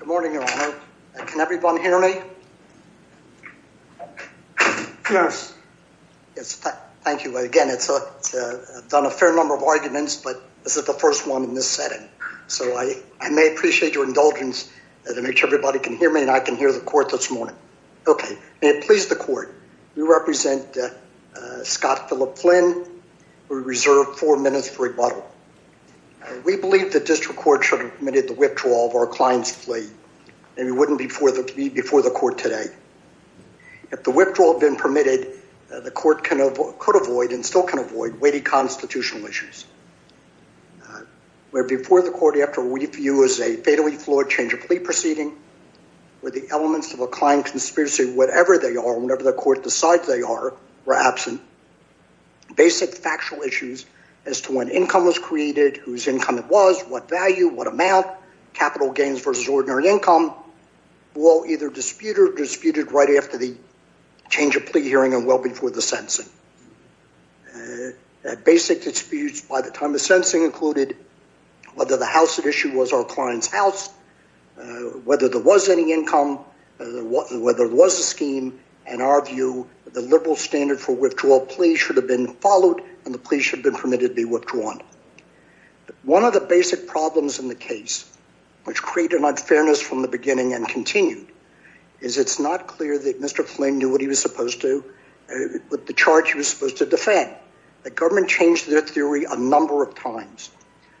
Good morning, Your Honor. Can everyone hear me? Yes. Thank you. Again, it's a done a fair number of arguments, but this is the first one in this setting, so I may appreciate your indulgence to make sure everybody can hear me and I can hear the court this morning. Okay, may it please the court, we represent Scott Philip Flynn. We reserve four minutes for rebuttal. We believe the district court should have the withdrawal of our client's plea, and it wouldn't be before the court today. If the withdrawal had been permitted, the court could avoid, and still can avoid, weighty constitutional issues. Where before the court you have to review as a fatally flawed change of plea proceeding, where the elements of a client conspiracy, whatever they are, whenever the court decides they are, were absent. Basic factual issues as to when income was created, whose income it was, what value, what amount, capital gains versus ordinary income, were either disputed or disputed right after the change of plea hearing and well before the sentencing. Basic disputes by the time of sentencing included whether the house at issue was our client's house, whether there was any income, whether there was a scheme. In our view, the liberal standard for withdrawal plea should have been followed and the plea should have been permitted to be withdrawn. One of the basic problems in the case, which created unfairness from the beginning and continued, is it's not clear that Mr. Flynn knew what he was supposed to, what the charge he was supposed to defend. The government changed their theory a number of times.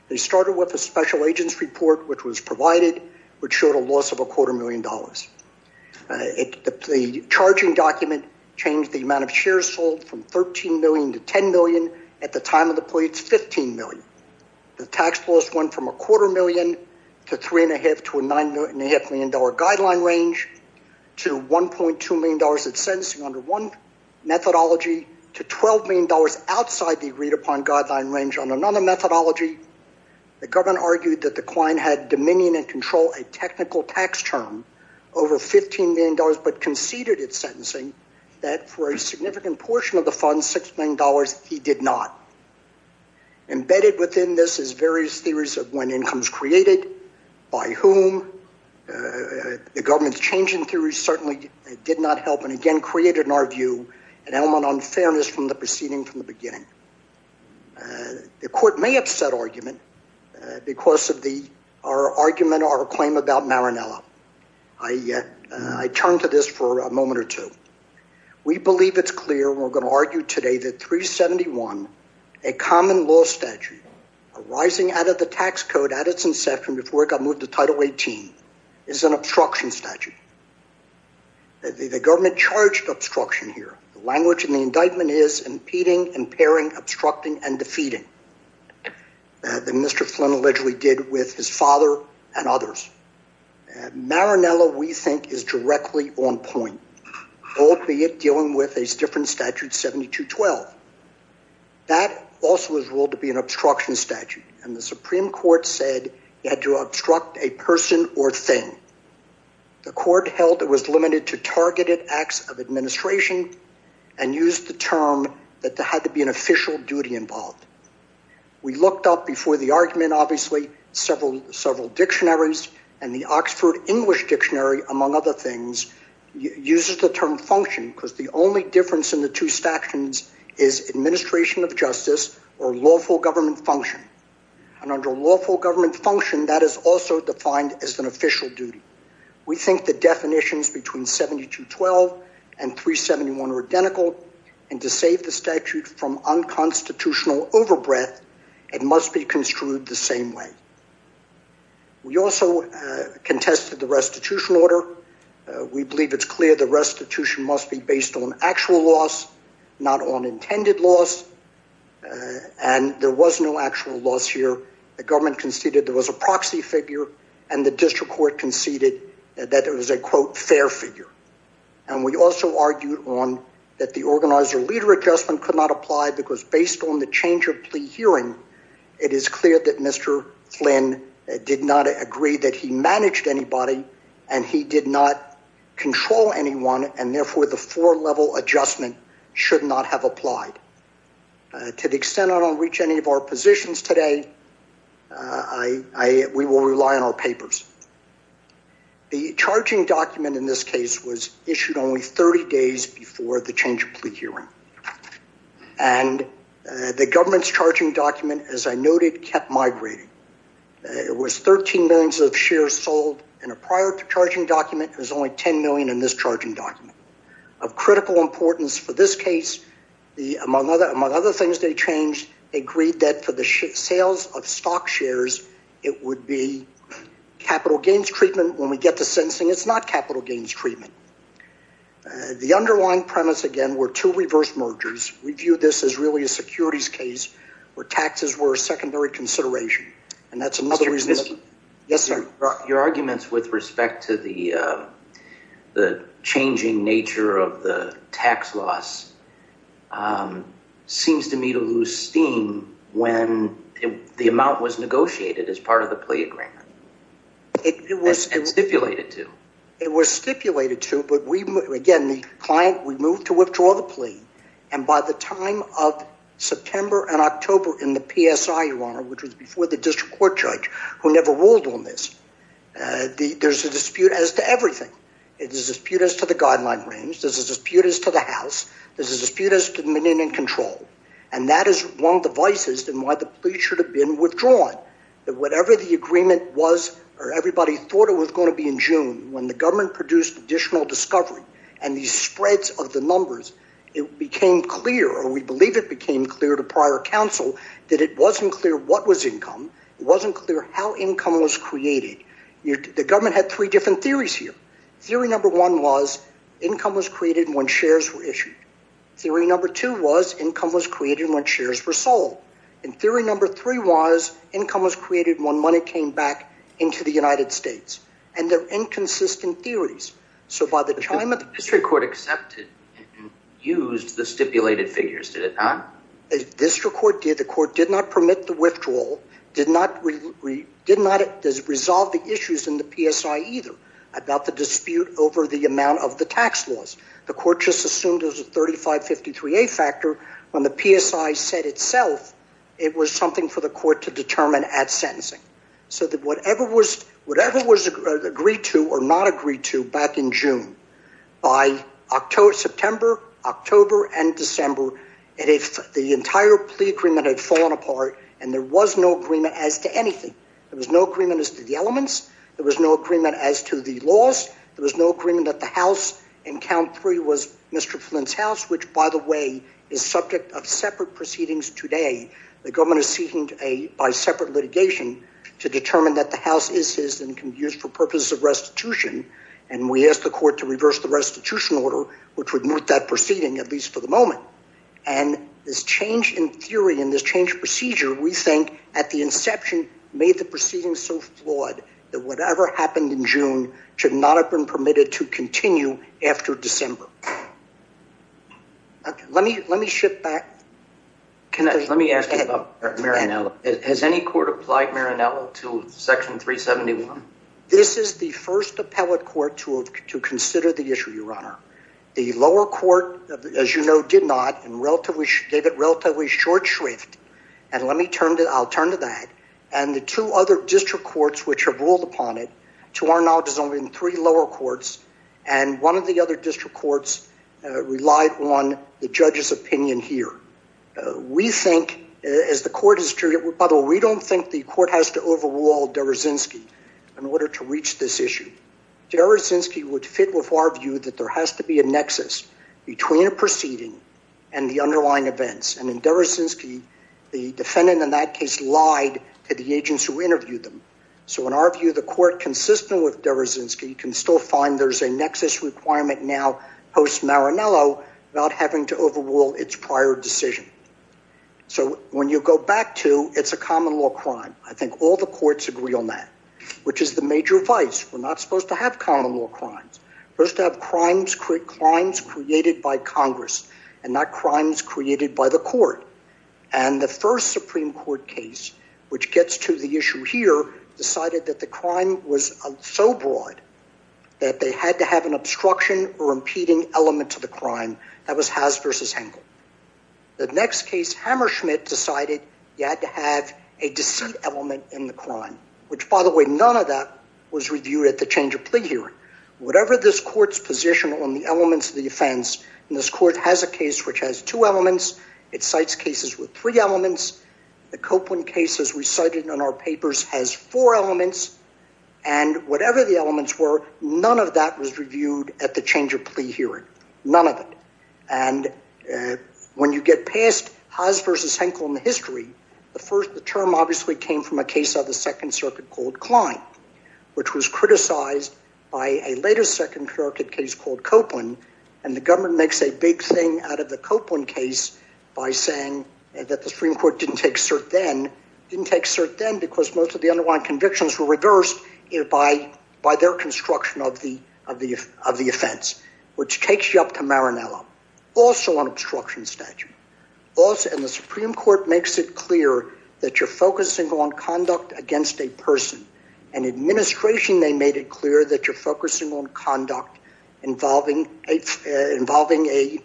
They started with a special agents report, which was provided, which showed a loss of a quarter million dollars. The charging document changed the amount of shares sold from 13 million to 10 million. At the time of the plea, it's 15 million. The tax loss went from a quarter million to three and a half to a nine and a half million dollar guideline range, to 1.2 million dollars at sentencing under one methodology, to 12 million dollars outside the agreed-upon guideline range on another methodology. The government argued that the client had dominion and control a technical tax term over 15 million dollars, but conceded at sentencing that for a significant portion of the fund, six million dollars, he did not. Embedded within this is various theories of when incomes created, by whom. The government's changing theory certainly did not help and again created in our view an element of unfairness from the proceeding from the beginning. The court may upset argument because of the, our argument, our claim about Maranello. I turn to this for a second. We believe it's clear, we're going to argue today, that 371, a common law statute arising out of the tax code at its inception before it got moved to title 18, is an obstruction statute. The government charged obstruction here. The language in the indictment is impeding, impairing, obstructing, and defeating. That Mr. Flynn allegedly did with his father and others. Maranello, we think, is directly on point. Albeit dealing with a different statute 7212. That also was ruled to be an obstruction statute and the Supreme Court said you had to obstruct a person or thing. The court held it was limited to targeted acts of administration and used the term that there had to be an official duty involved. We looked up before the argument, obviously, several, several things, uses the term function because the only difference in the two stations is administration of justice or lawful government function. And under lawful government function, that is also defined as an official duty. We think the definitions between 7212 and 371 are identical and to save the statute from unconstitutional overbreadth, it must be construed the same way. We also contested the restitution order. We believe it's clear the restitution must be based on actual loss, not on intended loss, and there was no actual loss here. The government conceded there was a proxy figure and the district court conceded that there was a quote fair figure. And we also argued on that the organizer leader adjustment could not apply because based on the change of plea hearing, it is clear that Mr. Flynn did not agree that he managed anybody and he did not control anyone and therefore the four-level adjustment should not have applied. To the extent I don't reach any of our positions today, we will rely on our papers. The charging document in this case was issued only 30 days before the discharging document, as I noted, kept migrating. It was 13 millions of shares sold and a prior to charging document was only 10 million in this charging document. Of critical importance for this case, among other things they changed, agreed that for the sales of stock shares it would be capital gains treatment when we get to sentencing. It's not capital gains treatment. The underlying premise again were two reverse mergers. We view this as really a securities case where taxes were a secondary consideration. Your arguments with respect to the the changing nature of the tax loss seems to me to lose steam when the amount was negotiated as part of the plea agreement. It was stipulated to. It was stipulated to but we again the client we moved to September and October in the PSI, Your Honor, which was before the district court judge, who never ruled on this. There's a dispute as to everything. It is a dispute as to the guideline range. There's a dispute as to the House. There's a dispute as to the Dominion control and that is one of the vices and why the plea should have been withdrawn. That whatever the agreement was or everybody thought it was going to be in June when the government produced additional discovery and these spreads of the numbers it became clear or we believe it came clear to prior counsel that it wasn't clear what was income. It wasn't clear how income was created. The government had three different theories here. Theory number one was income was created when shares were issued. Theory number two was income was created when shares were sold. And theory number three was income was created when money came back into the United States and they're inconsistent theories. So by the time of the district court accepted and used the district court did, the court did not permit the withdrawal, did not resolve the issues in the PSI either about the dispute over the amount of the tax laws. The court just assumed it was a 3553A factor when the PSI said itself it was something for the court to determine at sentencing. So that whatever was whatever was agreed to or not agreed to back in June, by September, October, and December and if the entire plea agreement had fallen apart and there was no agreement as to anything. There was no agreement as to the elements. There was no agreement as to the laws. There was no agreement at the house and count three was Mr. Flint's house which by the way is subject of separate proceedings today. The government is seeking a by separate litigation to determine that the house is his and can be used for purposes of restitution and we asked the court to reverse the restitution order which would move that proceeding at least for the moment and this change in theory in this change procedure we think at the inception made the proceedings so flawed that whatever happened in June should not have been permitted to continue after December. Let me let me shift back. Can I let me ask about Maranello. Has any court applied Maranello to section 371? This is the first appellate court to consider the issue your honor. The lower court as you know did not and relatively gave it relatively short shrift and let me turn to I'll turn to that and the two other district courts which have ruled upon it to our knowledge is only in three lower courts and one of the other district courts relied on the judge's opinion here. We think as the court is true by the way we don't think the court has to overrule Derazinski in order to reach this issue. Derazinski would fit with our view that there has to be a nexus between a proceeding and the underlying events and in Derazinski the defendant in that case lied to the agents who interviewed them. So in our view the court consistent with Derazinski can still find there's a nexus requirement now post Maranello about having to overrule its prior decision. So when you go back to it's a I think all the courts agree on that which is the major vice we're not supposed to have common law crimes. First to have crimes created by Congress and not crimes created by the court and the first Supreme Court case which gets to the issue here decided that the crime was so broad that they had to have an obstruction or impeding element to the crime that was Haas versus Henkel. The next case Hammerschmidt decided you had to have a element in the crime which by the way none of that was reviewed at the change of plea hearing. Whatever this court's position on the elements of the offense and this court has a case which has two elements it cites cases with three elements the Copeland case as we cited in our papers has four elements and whatever the elements were none of that was reviewed at the change of plea hearing none of it and when you get past Haas versus Henkel in the history the term obviously came from a case of the Second Circuit called Klein which was criticized by a later Second Circuit case called Copeland and the government makes a big thing out of the Copeland case by saying that the Supreme Court didn't take cert then didn't take cert then because most of the underlying convictions were reversed if I by their construction of the of the of the offense which takes you up to Maranello also on obstruction statute also in the that you're focusing on conduct against a person and administration they made it clear that you're focusing on conduct involving a involving a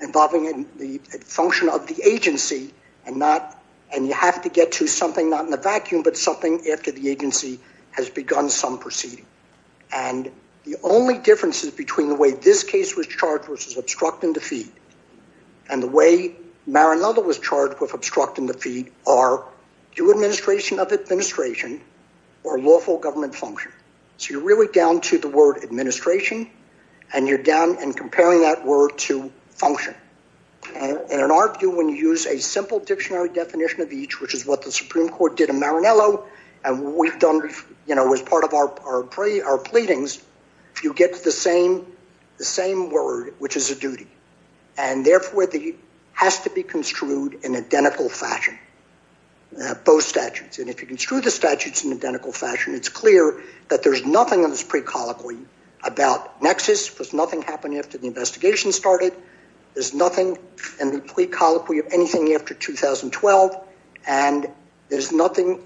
involving in the function of the agency and not and you have to get to something not in the vacuum but something after the agency has begun some proceeding and the only difference is between the way this case was charged versus obstruct and defeat and the way Maranello was charged with obstruct and defeat are you administration of administration or lawful government function so you're really down to the word administration and you're down and comparing that word to function and in our view when you use a simple dictionary definition of each which is what the Supreme Court did in Maranello and we've done you know as part of our pray our pleadings you get to the same the same word which is a and therefore the has to be construed in identical fashion both statutes and if you can screw the statutes in identical fashion it's clear that there's nothing that was pre-colloquy about Nexus was nothing happening after the investigation started there's nothing and the pre-colloquy of anything after 2012 and there's nothing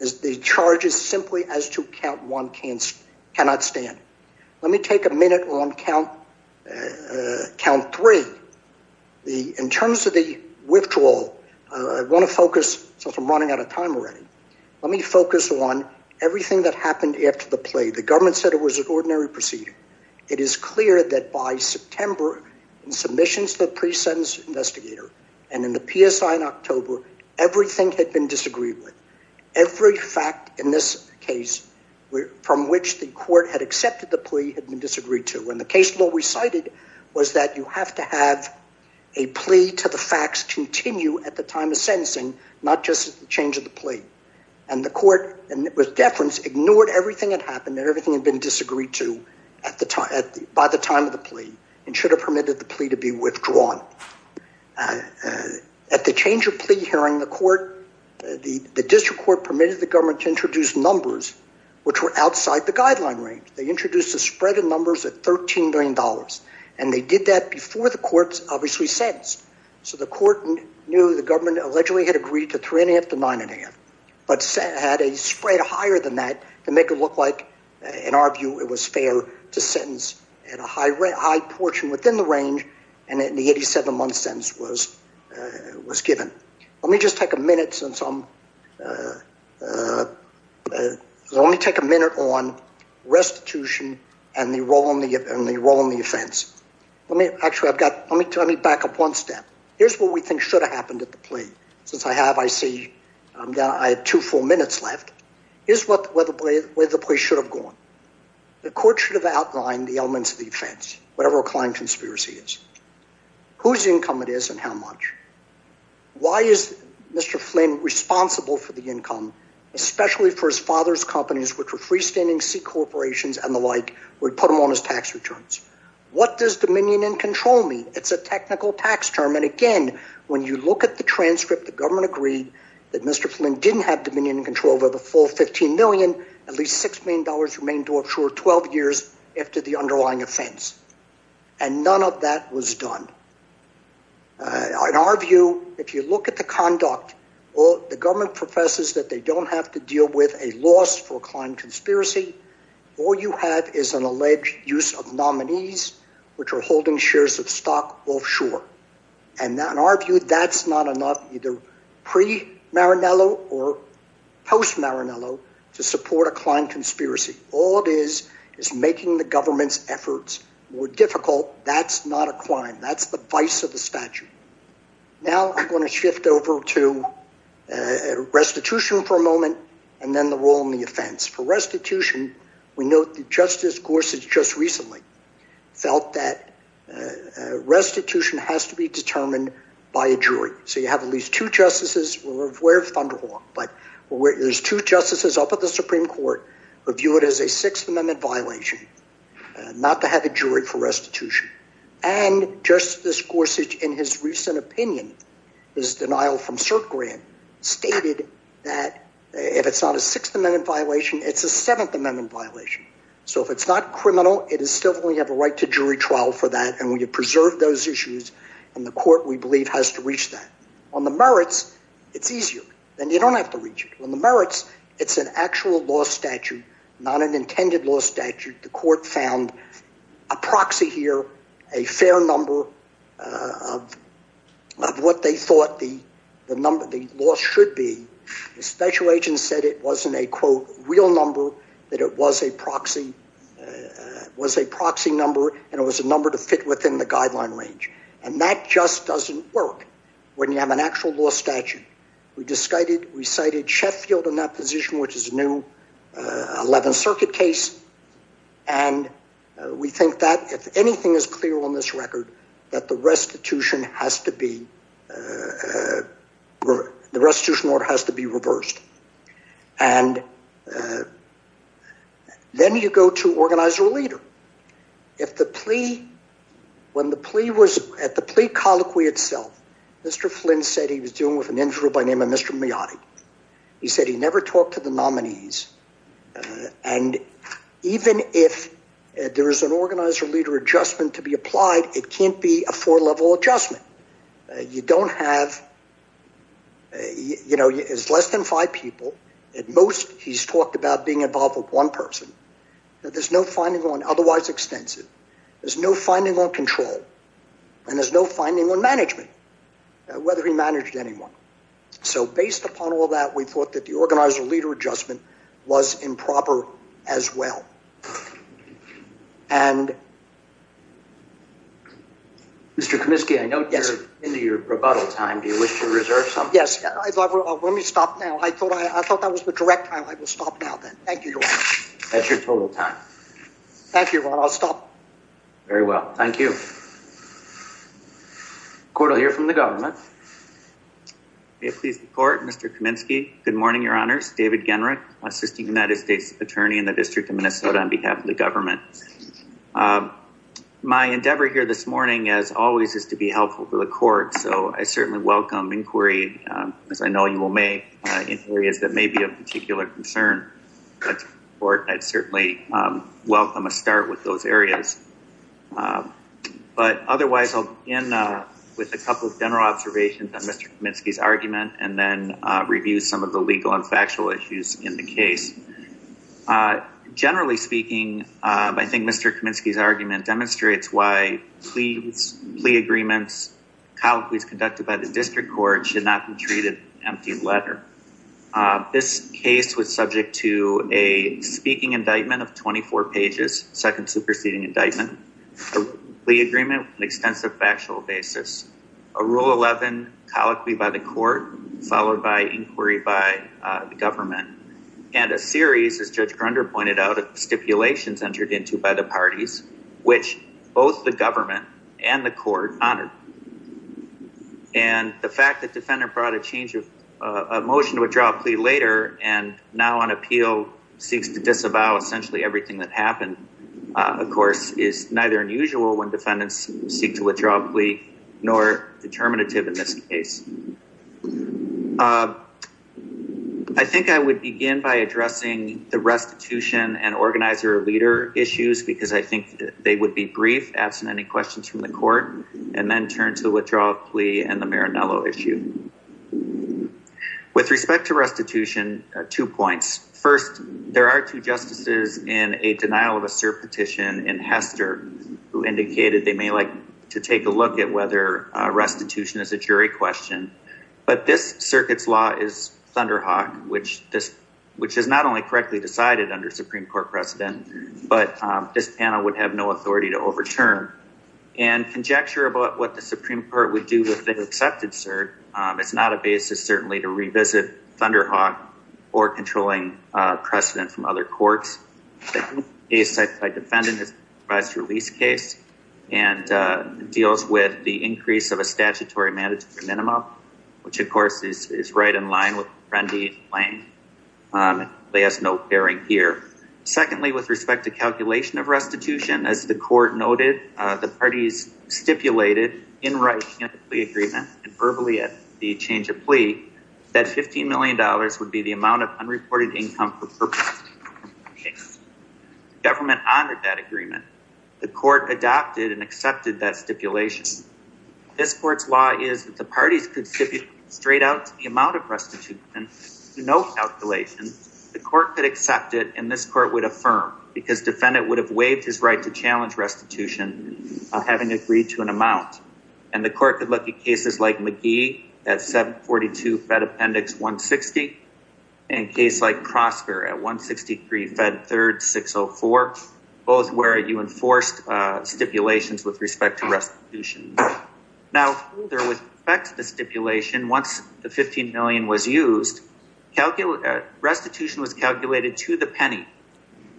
as the charges simply as to count one can't cannot stand let me take a minute on count count three the in terms of the withdrawal I want to focus since I'm running out of time already let me focus on everything that happened after the play the government said it was an ordinary proceeding it is clear that by September and submissions the pre-sentence investigator and in the PSI in October everything had been disagreed with every fact in this case we're from which the court had accepted the plea had been disagreed to when the case law recited was that you have to have a plea to the facts continue at the time of sentencing not just change of the plea and the court and it was deference ignored everything that happened everything had been disagreed to at the time at the by the time of the plea and should have permitted the plea to be withdrawn at the change of plea hearing the court the district court permitted the government to introduce numbers which were outside the guideline range they introduced a spread of numbers at 13 billion dollars and they did that before the courts obviously sense so the court knew the government allegedly had agreed to three and a half to nine and a half but said had a spread higher than that to make it look like in our view it was fair to sentence at a high rate high portion within the range and in the 87 month was given let me just take a minute since I'm let me take a minute on restitution and the role in the event the role in the offense let me actually I've got let me tell me back up one step here's what we think should have happened at the plea since I have I see I'm down I had two full minutes left is what whether play with the place should have gone the court should have outlined the it is and how much why is mr. Flynn responsible for the income especially for his father's companies which were freestanding C corporations and the like we put him on his tax returns what does dominion and control me it's a technical tax term and again when you look at the transcript the government agreed that mr. Flynn didn't have dominion control over the full 15 million at least six million dollars remain to absorb 12 years after the underlying offense and none of that was done in our view if you look at the conduct or the government professes that they don't have to deal with a loss for a client conspiracy all you have is an alleged use of nominees which are holding shares of stock offshore and now in our view that's not enough either pre maranello or post maranello to support a client conspiracy all it is is making the government's difficult that's not a client that's the vice of the statute now I'm going to shift over to restitution for a moment and then the role in the offense for restitution we note the justice Gorsuch just recently felt that restitution has to be determined by a jury so you have at least two justices were aware of Thunderhawk but where there's two justices up at the Supreme Court review it as a Sixth Amendment violation not to have a jury for restitution and justice Gorsuch in his recent opinion is denial from cert grant stated that if it's not a Sixth Amendment violation it's a Seventh Amendment violation so if it's not criminal it is still we have a right to jury trial for that and when you preserve those issues and the court we believe has to reach that on the merits it's easier then you don't have to reach it when the merits it's an actual law statute not an intended law statute the court found a proxy here a fair number of what they thought the the number the law should be the special agent said it wasn't a quote real number that it was a proxy was a proxy number and it was a number to fit within the guideline range and that just doesn't work when you have an actual law statute we decided we cited Sheffield in that position which is new 11th Circuit case and we think that if anything is clear on this record that the restitution has to be the restitution order has to be reversed and then you go to organize your leader if the plea when the plea was at the plea colloquy itself mr. Flynn said he was dealing with an to the nominees and even if there is an organizer leader adjustment to be applied it can't be a four level adjustment you don't have you know is less than five people at most he's talked about being involved with one person there's no finding on otherwise extensive there's no finding on control and there's no finding on management whether he managed anyone so based upon all that we thought that the organizer leader adjustment was improper as well and mr. Comiskey I know yes into your rebuttal time do you wish to reserve some yes let me stop now I thought I thought that was the direct I will stop now thank you that's your total time thank you Ron I'll stop very well thank you court I'll hear from the government please the court mr. Kaminsky good morning your honors David generic assisting United States attorney in the District of Minnesota on behalf of the government my endeavor here this morning as always is to be helpful to the court so I certainly welcome inquiry as I know you will make in areas that may be of particular concern or I'd certainly welcome a start with those areas but otherwise I'll in with a couple of general observations on mr. Comiskey's argument and then review some of the legal and factual issues in the case generally speaking I think mr. Comiskey's argument demonstrates why please plea agreements how he's conducted by the district court should not be treated empty letter this case was subject to a speaking indictment of 24 pages second superseding indictment the agreement an extensive factual basis a rule 11 colloquy by the court followed by inquiry by the government and a series as judge Grunder pointed out of stipulations entered into by the parties which both the government and the court honored and the fact that defendant brought a change of a motion to withdraw plea later and now on appeal seeks to disavow essentially everything that happened of course is neither unusual when defendants seek to withdraw plea nor determinative in this case I think I would begin by addressing the restitution and organizer leader issues because I think they would be brief absent any questions from the court and then turn to the withdrawal plea and the Maranello issue with respect to restitution two points first there are two justices in a denial of a cert petition in Hester who indicated they may like to take a look at whether restitution is a jury question but this circuits law is Thunderhawk which this which is not only correctly decided under Supreme Court precedent but this panel would have no authority to overturn and conjecture about what the Supreme Court would do with an accepted cert it's not a basis certainly to revisit Thunderhawk or controlling precedent from other courts a site by defendant is best release case and deals with the increase of a statutory mandatory minimum which of course is right in line with Randy Lane they has no bearing here secondly with respect to calculation of restitution as the court noted the parties stipulated in right the agreement verbally at the change of plea that 15 million dollars would be the amount of unreported income for purpose government under that agreement the court adopted and accepted that stipulation this court's law is that the parties could sit you straight out the amount of restitution no calculation the court could accept it and this court would affirm because defendant would have waived his right to challenge restitution having agreed to an amount and the court could look at cases like McGee at 742 Fed appendix 160 and case like prosper at 163 Fed third 604 both where you enforced stipulations with respect to restitution now there was back to the stipulation once the 15 million was used calculate restitution was calculated to the penny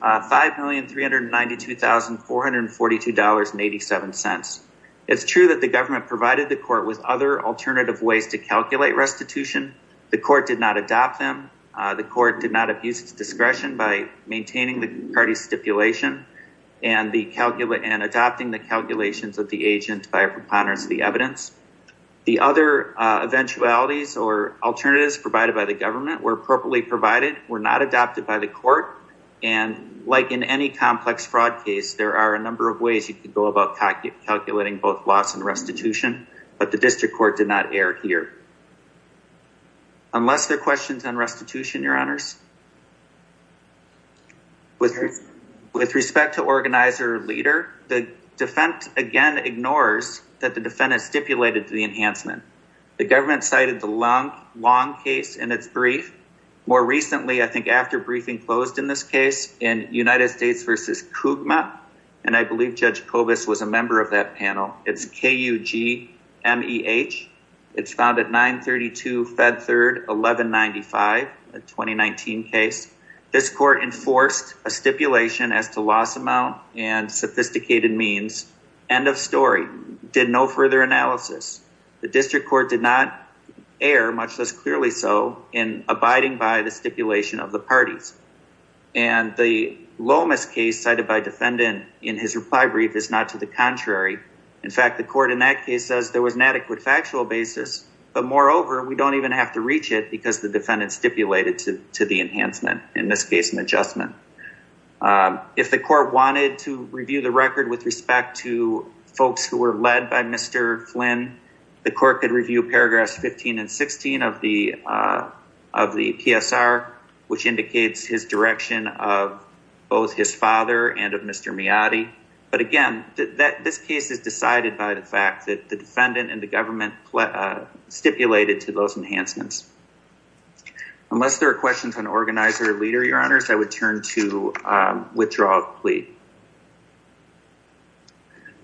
five million three hundred ninety two thousand four hundred forty two dollars and eighty seven cents it's true that the government provided the court with other alternative ways to calculate restitution the court did not adopt them the court did not abuse its discretion by maintaining the party stipulation and the calculate and adopting the calculations of the agent by a preponderance of the evidence the other eventualities or alternatives provided by the government were appropriately provided were not adopted by the court and like in any complex fraud case there are a number of ways you could go about calculating both loss and restitution but the district court did not err here unless their questions on restitution your honors with with respect to organizer leader the defense again ignores that the defendant stipulated to the enhancement the government cited the long case in its brief more recently I think after briefing closed in this case in United States versus Kugma and I believe judge Cobus was a member of that panel it's KUG MEH it's found at 932 Fed third 1195 a 2019 case this court enforced a stipulation as to loss amount and sophisticated means end of story did no further analysis the district court did not air much less clearly so in abiding by the stipulation of the parties and the Lomas case cited by defendant in his reply brief is not to the contrary in fact the court in that case says there was an adequate factual basis but moreover we don't even have to reach it because the defendant stipulated to to the enhancement in this case an adjustment if the court wanted to review the record with respect to folks who were led by mr. Flynn the court could review paragraphs 15 and 16 of the of the PSR which indicates his direction of both his father and of mr. Miyadi but again that this case is decided by the fact that the defendant and the government stipulated to those enhancements unless there are questions on organizer leader your honors I would turn to withdraw plea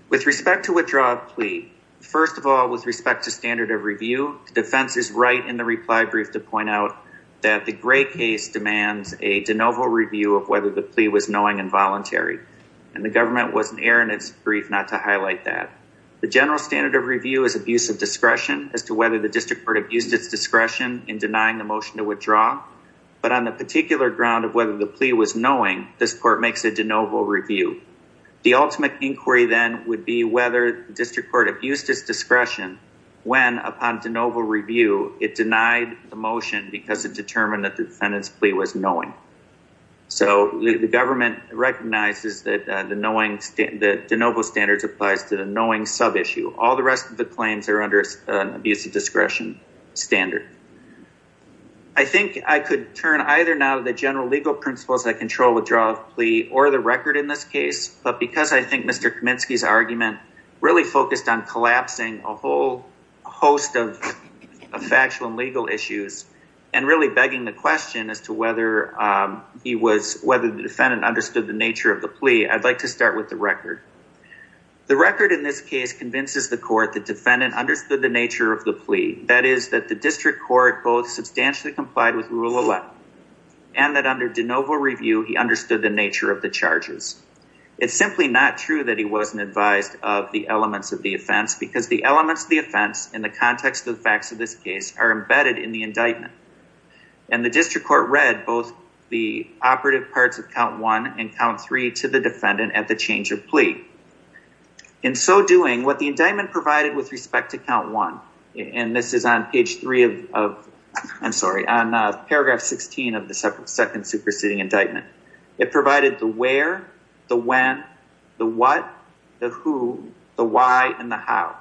with respect to withdraw plea first of all with respect to standard of review defense is right in the reply brief to point out that the gray case demands a de novo review of whether the plea was knowing involuntary and the government wasn't Aaron it's brief not to highlight that the general standard of review is abusive discretion as to whether the district court abused its discretion in denying the motion to withdraw but on the particular ground of whether the plea was knowing this court makes a de novo review the ultimate inquiry then would be whether district court abused its discretion when upon de novo review it denied the motion because it determined that the defendant's plea was knowing so the government recognizes that the knowing state that de novo standards applies to the knowing sub issue all the rest of the claims are under an abusive discretion standard I think I could turn either now the general legal principles that control withdrawal plea or the record in this case but because I think mr. Kaminsky's argument really focused on collapsing a whole host of a factual and legal issues and really begging the question as to whether he was whether the defendant understood the nature of the plea I'd like to start with the record the record in this case convinces the court the defendant understood the nature of the plea that is that the district court both substantially complied with rule 11 and that under de novo review he understood the nature of the charges it's simply not true that he wasn't advised of the elements of the offense because the elements of the offense in the context of the facts of this case are embedded in the indictment and the district court read both the operative parts of count one and count three to the defendant at the change of plea in so doing what the indictment provided with respect to count one and this is on page three of I'm sorry on paragraph 16 of the second superseding indictment it provided the where the when the what the who the why and the how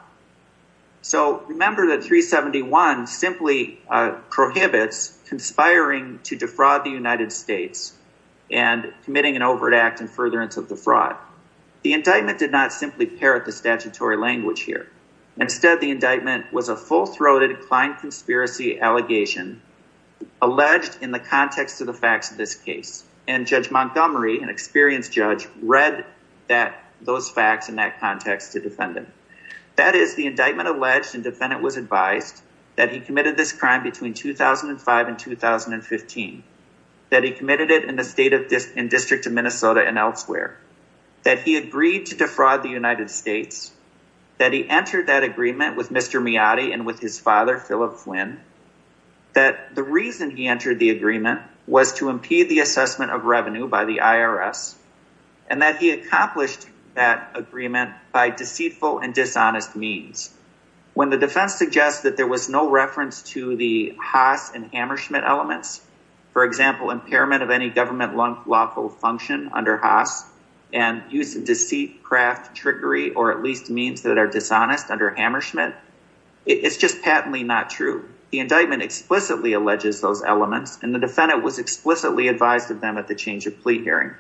so remember that 371 simply prohibits conspiring to defraud the indictment did not simply parrot the statutory language here instead the indictment was a full-throated client conspiracy allegation alleged in the context of the facts of this case and Judge Montgomery an experienced judge read that those facts in that context to defendant that is the indictment alleged and defendant was advised that he committed this crime between 2005 and 2015 that he committed it in the state of this in District of Minnesota and elsewhere that he agreed to defraud the United States that he entered that agreement with Mr. Meade and with his father Philip Flynn that the reason he entered the agreement was to impede the assessment of revenue by the IRS and that he accomplished that agreement by deceitful and dishonest means when the defense suggests that there was no reference to the Haas and Hammersmith elements for example impairment of any government lawful function under Haas and use of deceit craft trickery or at least means that are dishonest under Hammersmith it's just patently not true the indictment explicitly alleges those elements and the defendant was explicitly advised of them at the change of plea hearing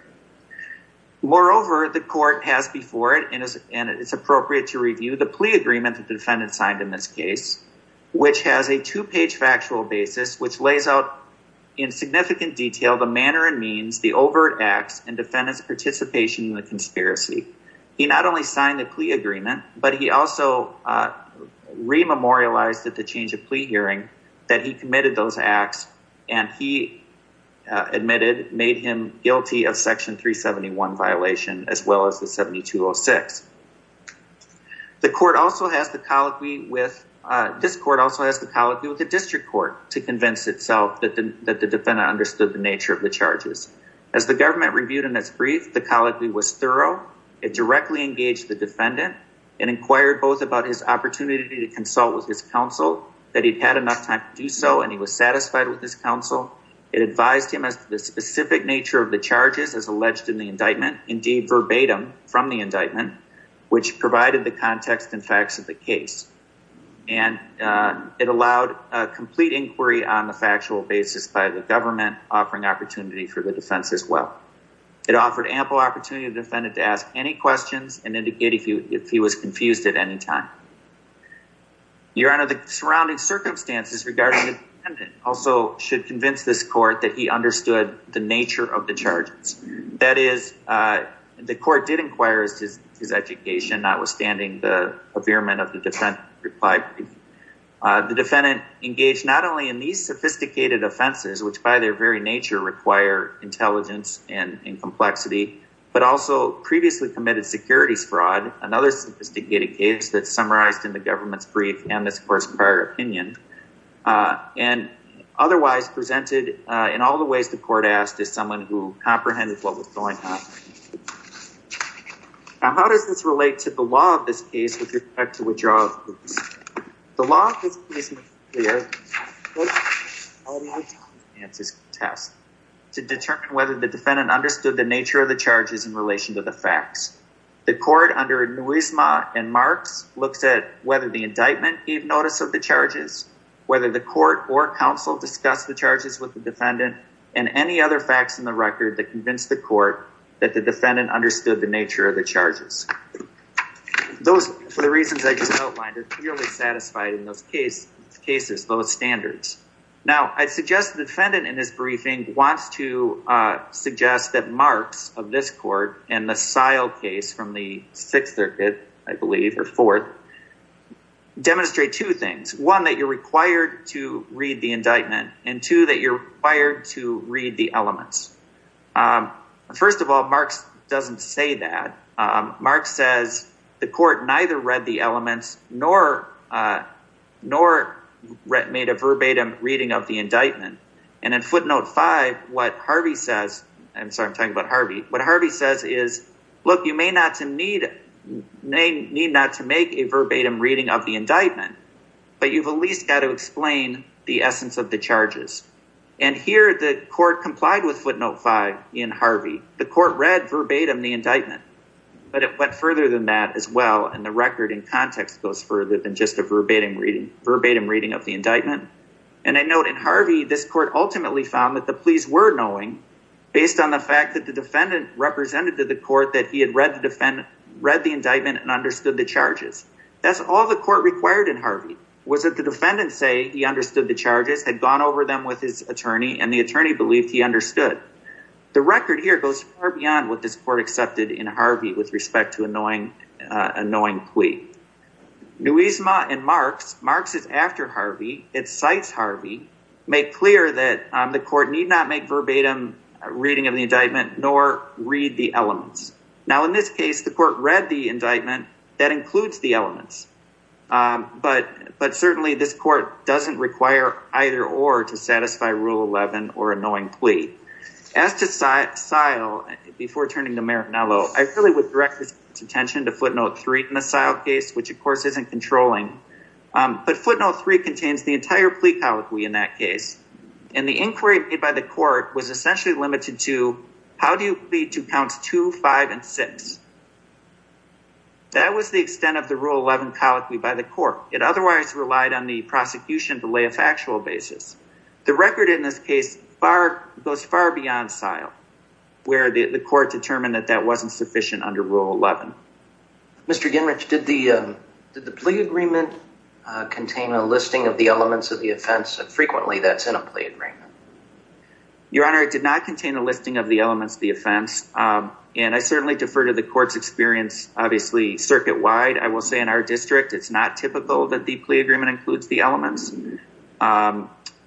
moreover the court has before it and it's appropriate to review the plea agreement that the defendant signed in this case which has a two-page factual basis which lays out in significant detail the manner and means the overt acts and defendants participation in the conspiracy he not only signed the plea agreement but he also rememorialized at the change of plea hearing that he committed those acts and he admitted made him guilty of section 371 violation as well as the 7206 the court also has the colloquy with this court also has the colloquy with the district court to convince itself that the defendant understood the nature of the charges as the government reviewed in its brief the colloquy was thorough it directly engaged the defendant and inquired both about his opportunity to consult with his counsel that he'd had enough time to do so and he was satisfied with this counsel it advised him as the specific nature of the charges as alleged in the indictment indeed verbatim from the indictment which provided the context and facts of the case and it allowed a complete inquiry on the factual basis by the government offering opportunity for the defense as well it offered ample opportunity defendant to ask any questions and indicate if you if he was confused at any time your honor the surrounding circumstances regarding it also should convince this court that he understood the nature of the charges that is the court did inquire his education notwithstanding the impairment of the defense reply the defendant engaged not only in these sophisticated offenses which by their very nature require intelligence and in complexity but also previously committed securities fraud another sophisticated case that summarized in the government's brief and this course prior opinion and otherwise presented in all the ways the court asked is someone who comprehended what was going on how does this relate to the law of this case with respect to withdraw the law test to determine whether the defendant understood the nature of the charges in relation to the facts the court under a noise ma and marks looks at whether the indictment gave notice of the charges whether the court or counsel discuss the charges with the defendant and any other facts in the record that convinced the court that the defendant understood the nature of the charges those for the reasons I just outlined it really satisfied in those case cases those standards now I suggest the defendant in this briefing wants to suggest that marks of this court and the sile case from the Sixth Circuit I believe or fourth demonstrate two things one that you're required to read the indictment and two that you're fired to read the elements first of all marks doesn't say that Mark says the court neither read the elements nor nor read made a verbatim reading of the indictment and in footnote 5 what Harvey says and so I'm talking about Harvey what Harvey says is look you may not to need name need not to make a verbatim reading of the indictment but you've at least got to explain the essence of the charges and here the court complied with footnote 5 in Harvey the court read verbatim the indictment but it went further than that as well and the record in context goes further than just a verbatim reading verbatim reading of the indictment and I note in Harvey this court ultimately found that the police were knowing based on the fact that the defendant represented to the court that he had read the defendant read the indictment and understood the charges that's all the court required in Harvey was that the defendant say he understood the charges had gone over them with his attorney and the attorney believed he understood the record here goes beyond what this court accepted in Harvey with respect to annoying annoying plea Nuisma and marks marks is after Harvey it cites Harvey make clear that the court need not make verbatim reading of the indictment nor read the elements now in this case the court read the indictment that includes the elements but but certainly this court doesn't require either or to satisfy rule 11 or a knowing plea as to site style before turning to Merrick now though I really would direct attention to footnote 3 in the style case which of course isn't controlling but footnote 3 contains the entire plea colloquy in that case and the inquiry made by the court was the extent of the rule 11 colloquy by the court it otherwise relied on the prosecution to lay a factual basis the record in this case far goes far beyond style where the court determined that that wasn't sufficient under rule 11 mr. Gingrich did the plea agreement contain a listing of the elements of the offense and frequently that's in a plea agreement your honor it did not contain a listing of the elements the offense and I certainly defer to the court's experience obviously circuit-wide I will say in our district it's not typical that the plea agreement includes the elements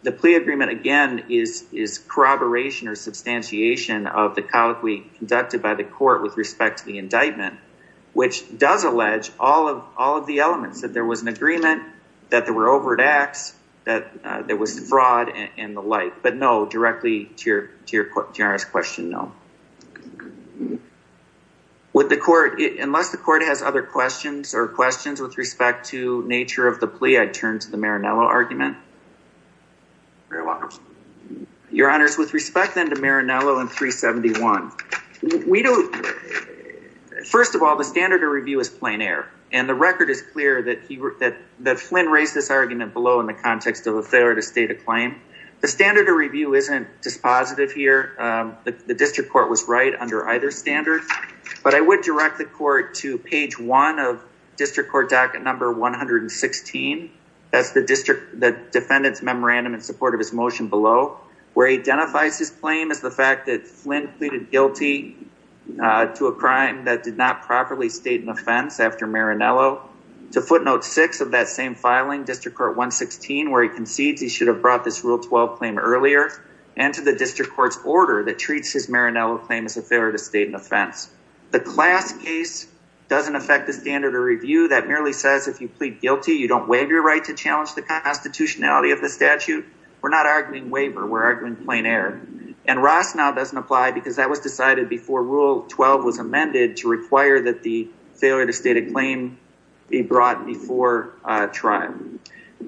the plea agreement again is is corroboration or substantiation of the colloquy conducted by the court with respect to the indictment which does allege all of all of the elements that there was an agreement that there were overt acts that there was fraud and the like but no directly to your generous question no with the court unless the court has other questions or questions with respect to nature of the plea I'd turn to the Maranello argument your honors with respect then to Maranello and 371 we don't first of all the standard of review is plein air and the record is clear that he that that Flynn raised this argument below in the standard of review isn't dispositive here the district court was right under either standard but I would direct the court to page one of district court docket number 116 that's the district the defendants memorandum in support of his motion below where he identifies his claim is the fact that Flynn pleaded guilty to a crime that did not properly state an offense after Maranello to footnote six of that same filing district court 116 where he concedes he should have brought this rule 12 claim earlier and to the district court's order that treats his Maranello claim as a failure to state an offense the class case doesn't affect the standard of review that merely says if you plead guilty you don't waive your right to challenge the constitutionality of the statute we're not arguing waiver we're arguing plein air and Ross now doesn't apply because that was decided before rule 12 was amended to require that the failure to state a claim be brought before trial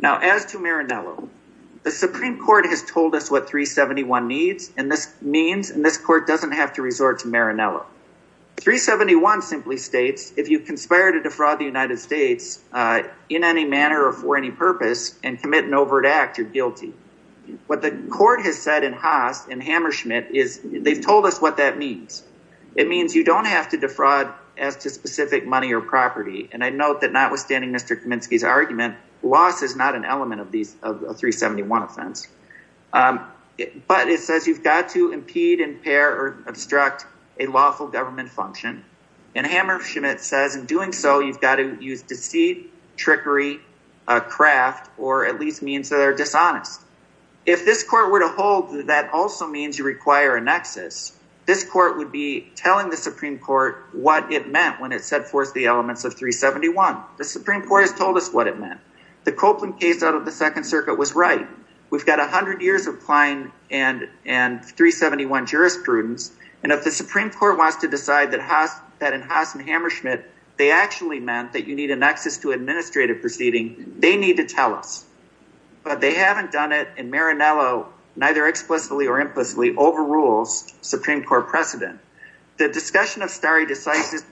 now as to Maranello the Supreme Court has told us what 371 needs and this means and this court doesn't have to resort to Maranello 371 simply states if you conspire to defraud the United States in any manner or for any purpose and commit an overt act you're guilty what the court has said in Haas and Hammersmith is they've told us what that means it means you don't have to defraud as to specific money or property and I note that notwithstanding mr. Kaminsky's argument loss is not an element of these of 371 offense but it says you've got to impede impair or obstruct a lawful government function and Hammersmith says in doing so you've got to use deceit trickery a craft or at least means that are dishonest if this court were to hold that also means you require an access this court would be telling the Supreme Court what it meant when it set forth the elements of 371 the Supreme Court has told us what it meant the Copeland case out of the Second Circuit was right we've got a hundred years of Klein and and 371 jurisprudence and if the Supreme Court wants to decide that has that in Haas and Hammersmith they actually meant that you need an access to administrative proceeding they need to tell us but they haven't done it and Maranello neither explicitly or implicitly overrules Supreme Court precedent the discussion of starry decisive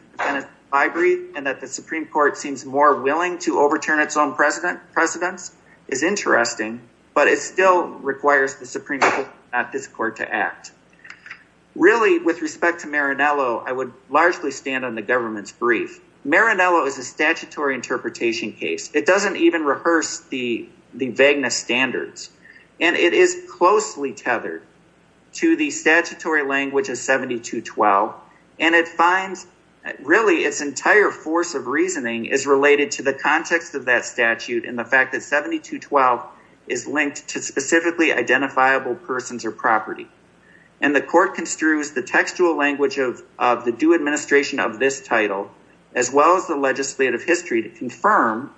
I breathe and that the Supreme Court seems more willing to overturn its own president precedents is interesting but it still requires the Supreme Court at this court to act really with respect to Maranello I would largely stand on the government's brief Maranello is a it doesn't even rehearse the the vagueness standards and it is closely tethered to the statutory language of 72 12 and it finds really its entire force of reasoning is related to the context of that statute in the fact that 72 12 is linked to specifically identifiable persons or property and the court construes the textual language of the do administration of this title as well as the legislative history to confirm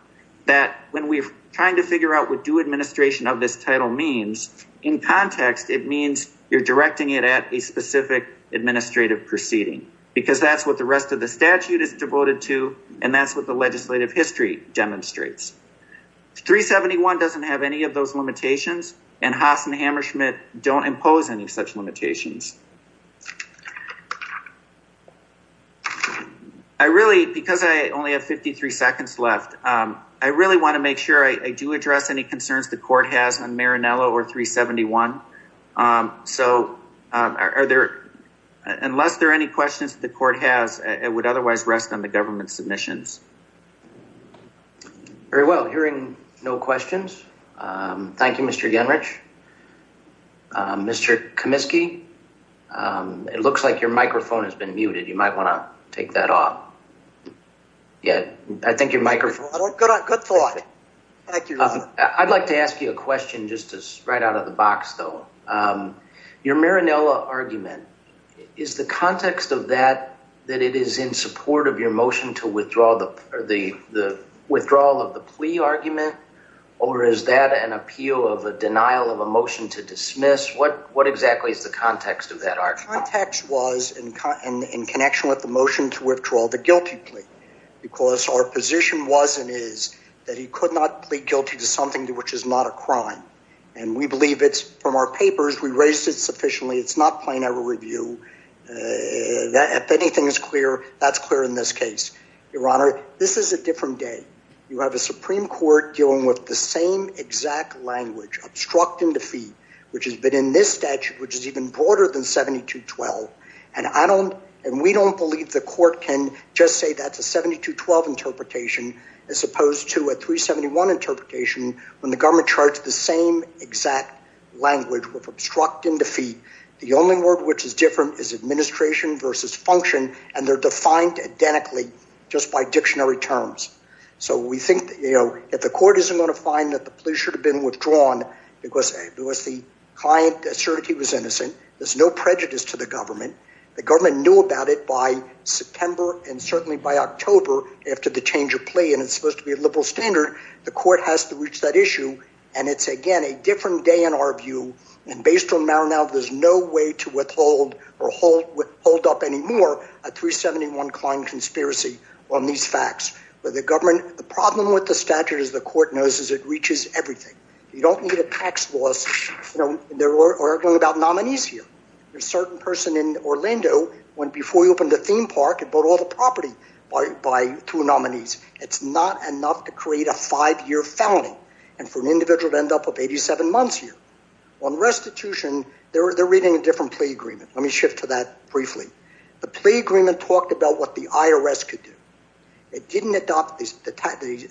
that when we're trying to figure out what do administration of this title means in context it means you're directing it at a specific administrative proceeding because that's what the rest of the statute is devoted to and that's what the legislative history demonstrates 371 doesn't have any of those limitations and Haas and Hammersmith don't impose any such limitations I really because I only have 53 seconds left I really want to make sure I do address any concerns the court has on Maranello or 371 so are there unless there are any questions the court has it would otherwise rest on the government's submissions very well hearing no questions Thank You mr. young rich mr. Comiskey it looks like your microphone has been muted you might want to take that off yeah I think your microphone good thought thank you I'd like to ask you a question just to spread out of the box though your Maranello argument is the context of that that it is in support of your motion to withdraw the or the the withdrawal of the plea argument or is that an appeal of a denial of a motion to dismiss what what exactly is the context of that our context was in connection with the motion to withdraw the guilty plea because our position wasn't is that he could not plead guilty to something to which is not a crime and we believe it's from our papers we raised it sufficiently it's not plain our review that if anything is clear that's clear in this case your honor this is a different day you have a exact language obstructing defeat which has been in this statute which is even broader than 72 12 and I don't and we don't believe the court can just say that's a 72 12 interpretation as opposed to a 371 interpretation when the government charts the same exact language with obstructing defeat the only word which is different is administration versus function and they're defined identically just by dictionary terms so we think that you should have been withdrawn because it was the client that certainty was innocent there's no prejudice to the government the government knew about it by September and certainly by October after the change of plea and it's supposed to be a liberal standard the court has to reach that issue and it's again a different day in our view and based on now now there's no way to withhold or hold with hold up anymore at 371 Klein conspiracy on these facts but the government the problem with the statute is the court knows is it you don't need a tax laws you know there were arguing about nominees here there's certain person in Orlando when before you open the theme park and put all the property by two nominees it's not enough to create a five-year felony and for an individual to end up with 87 months here on restitution there they're reading a different plea agreement let me shift to that briefly the plea agreement talked about what the IRS could do it didn't adopt this the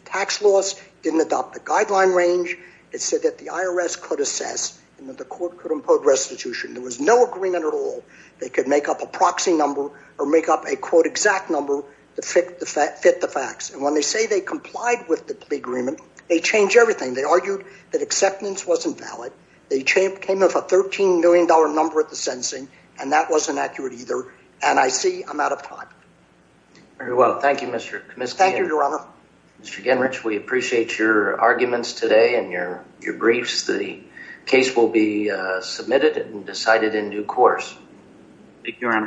tax laws didn't adopt the guideline range it said that the IRS could assess and that the court could impose restitution there was no agreement at all they could make up a proxy number or make up a quote exact number to fit the fact fit the facts and when they say they complied with the plea agreement they change everything they argued that acceptance wasn't valid they changed came up a 13 million dollar number at the sentencing and that wasn't accurate either and I see I'm out of time very well thank you mr. commiss thank you mr. Genrich we appreciate your arguments today and your your briefs the case will be submitted and decided in due course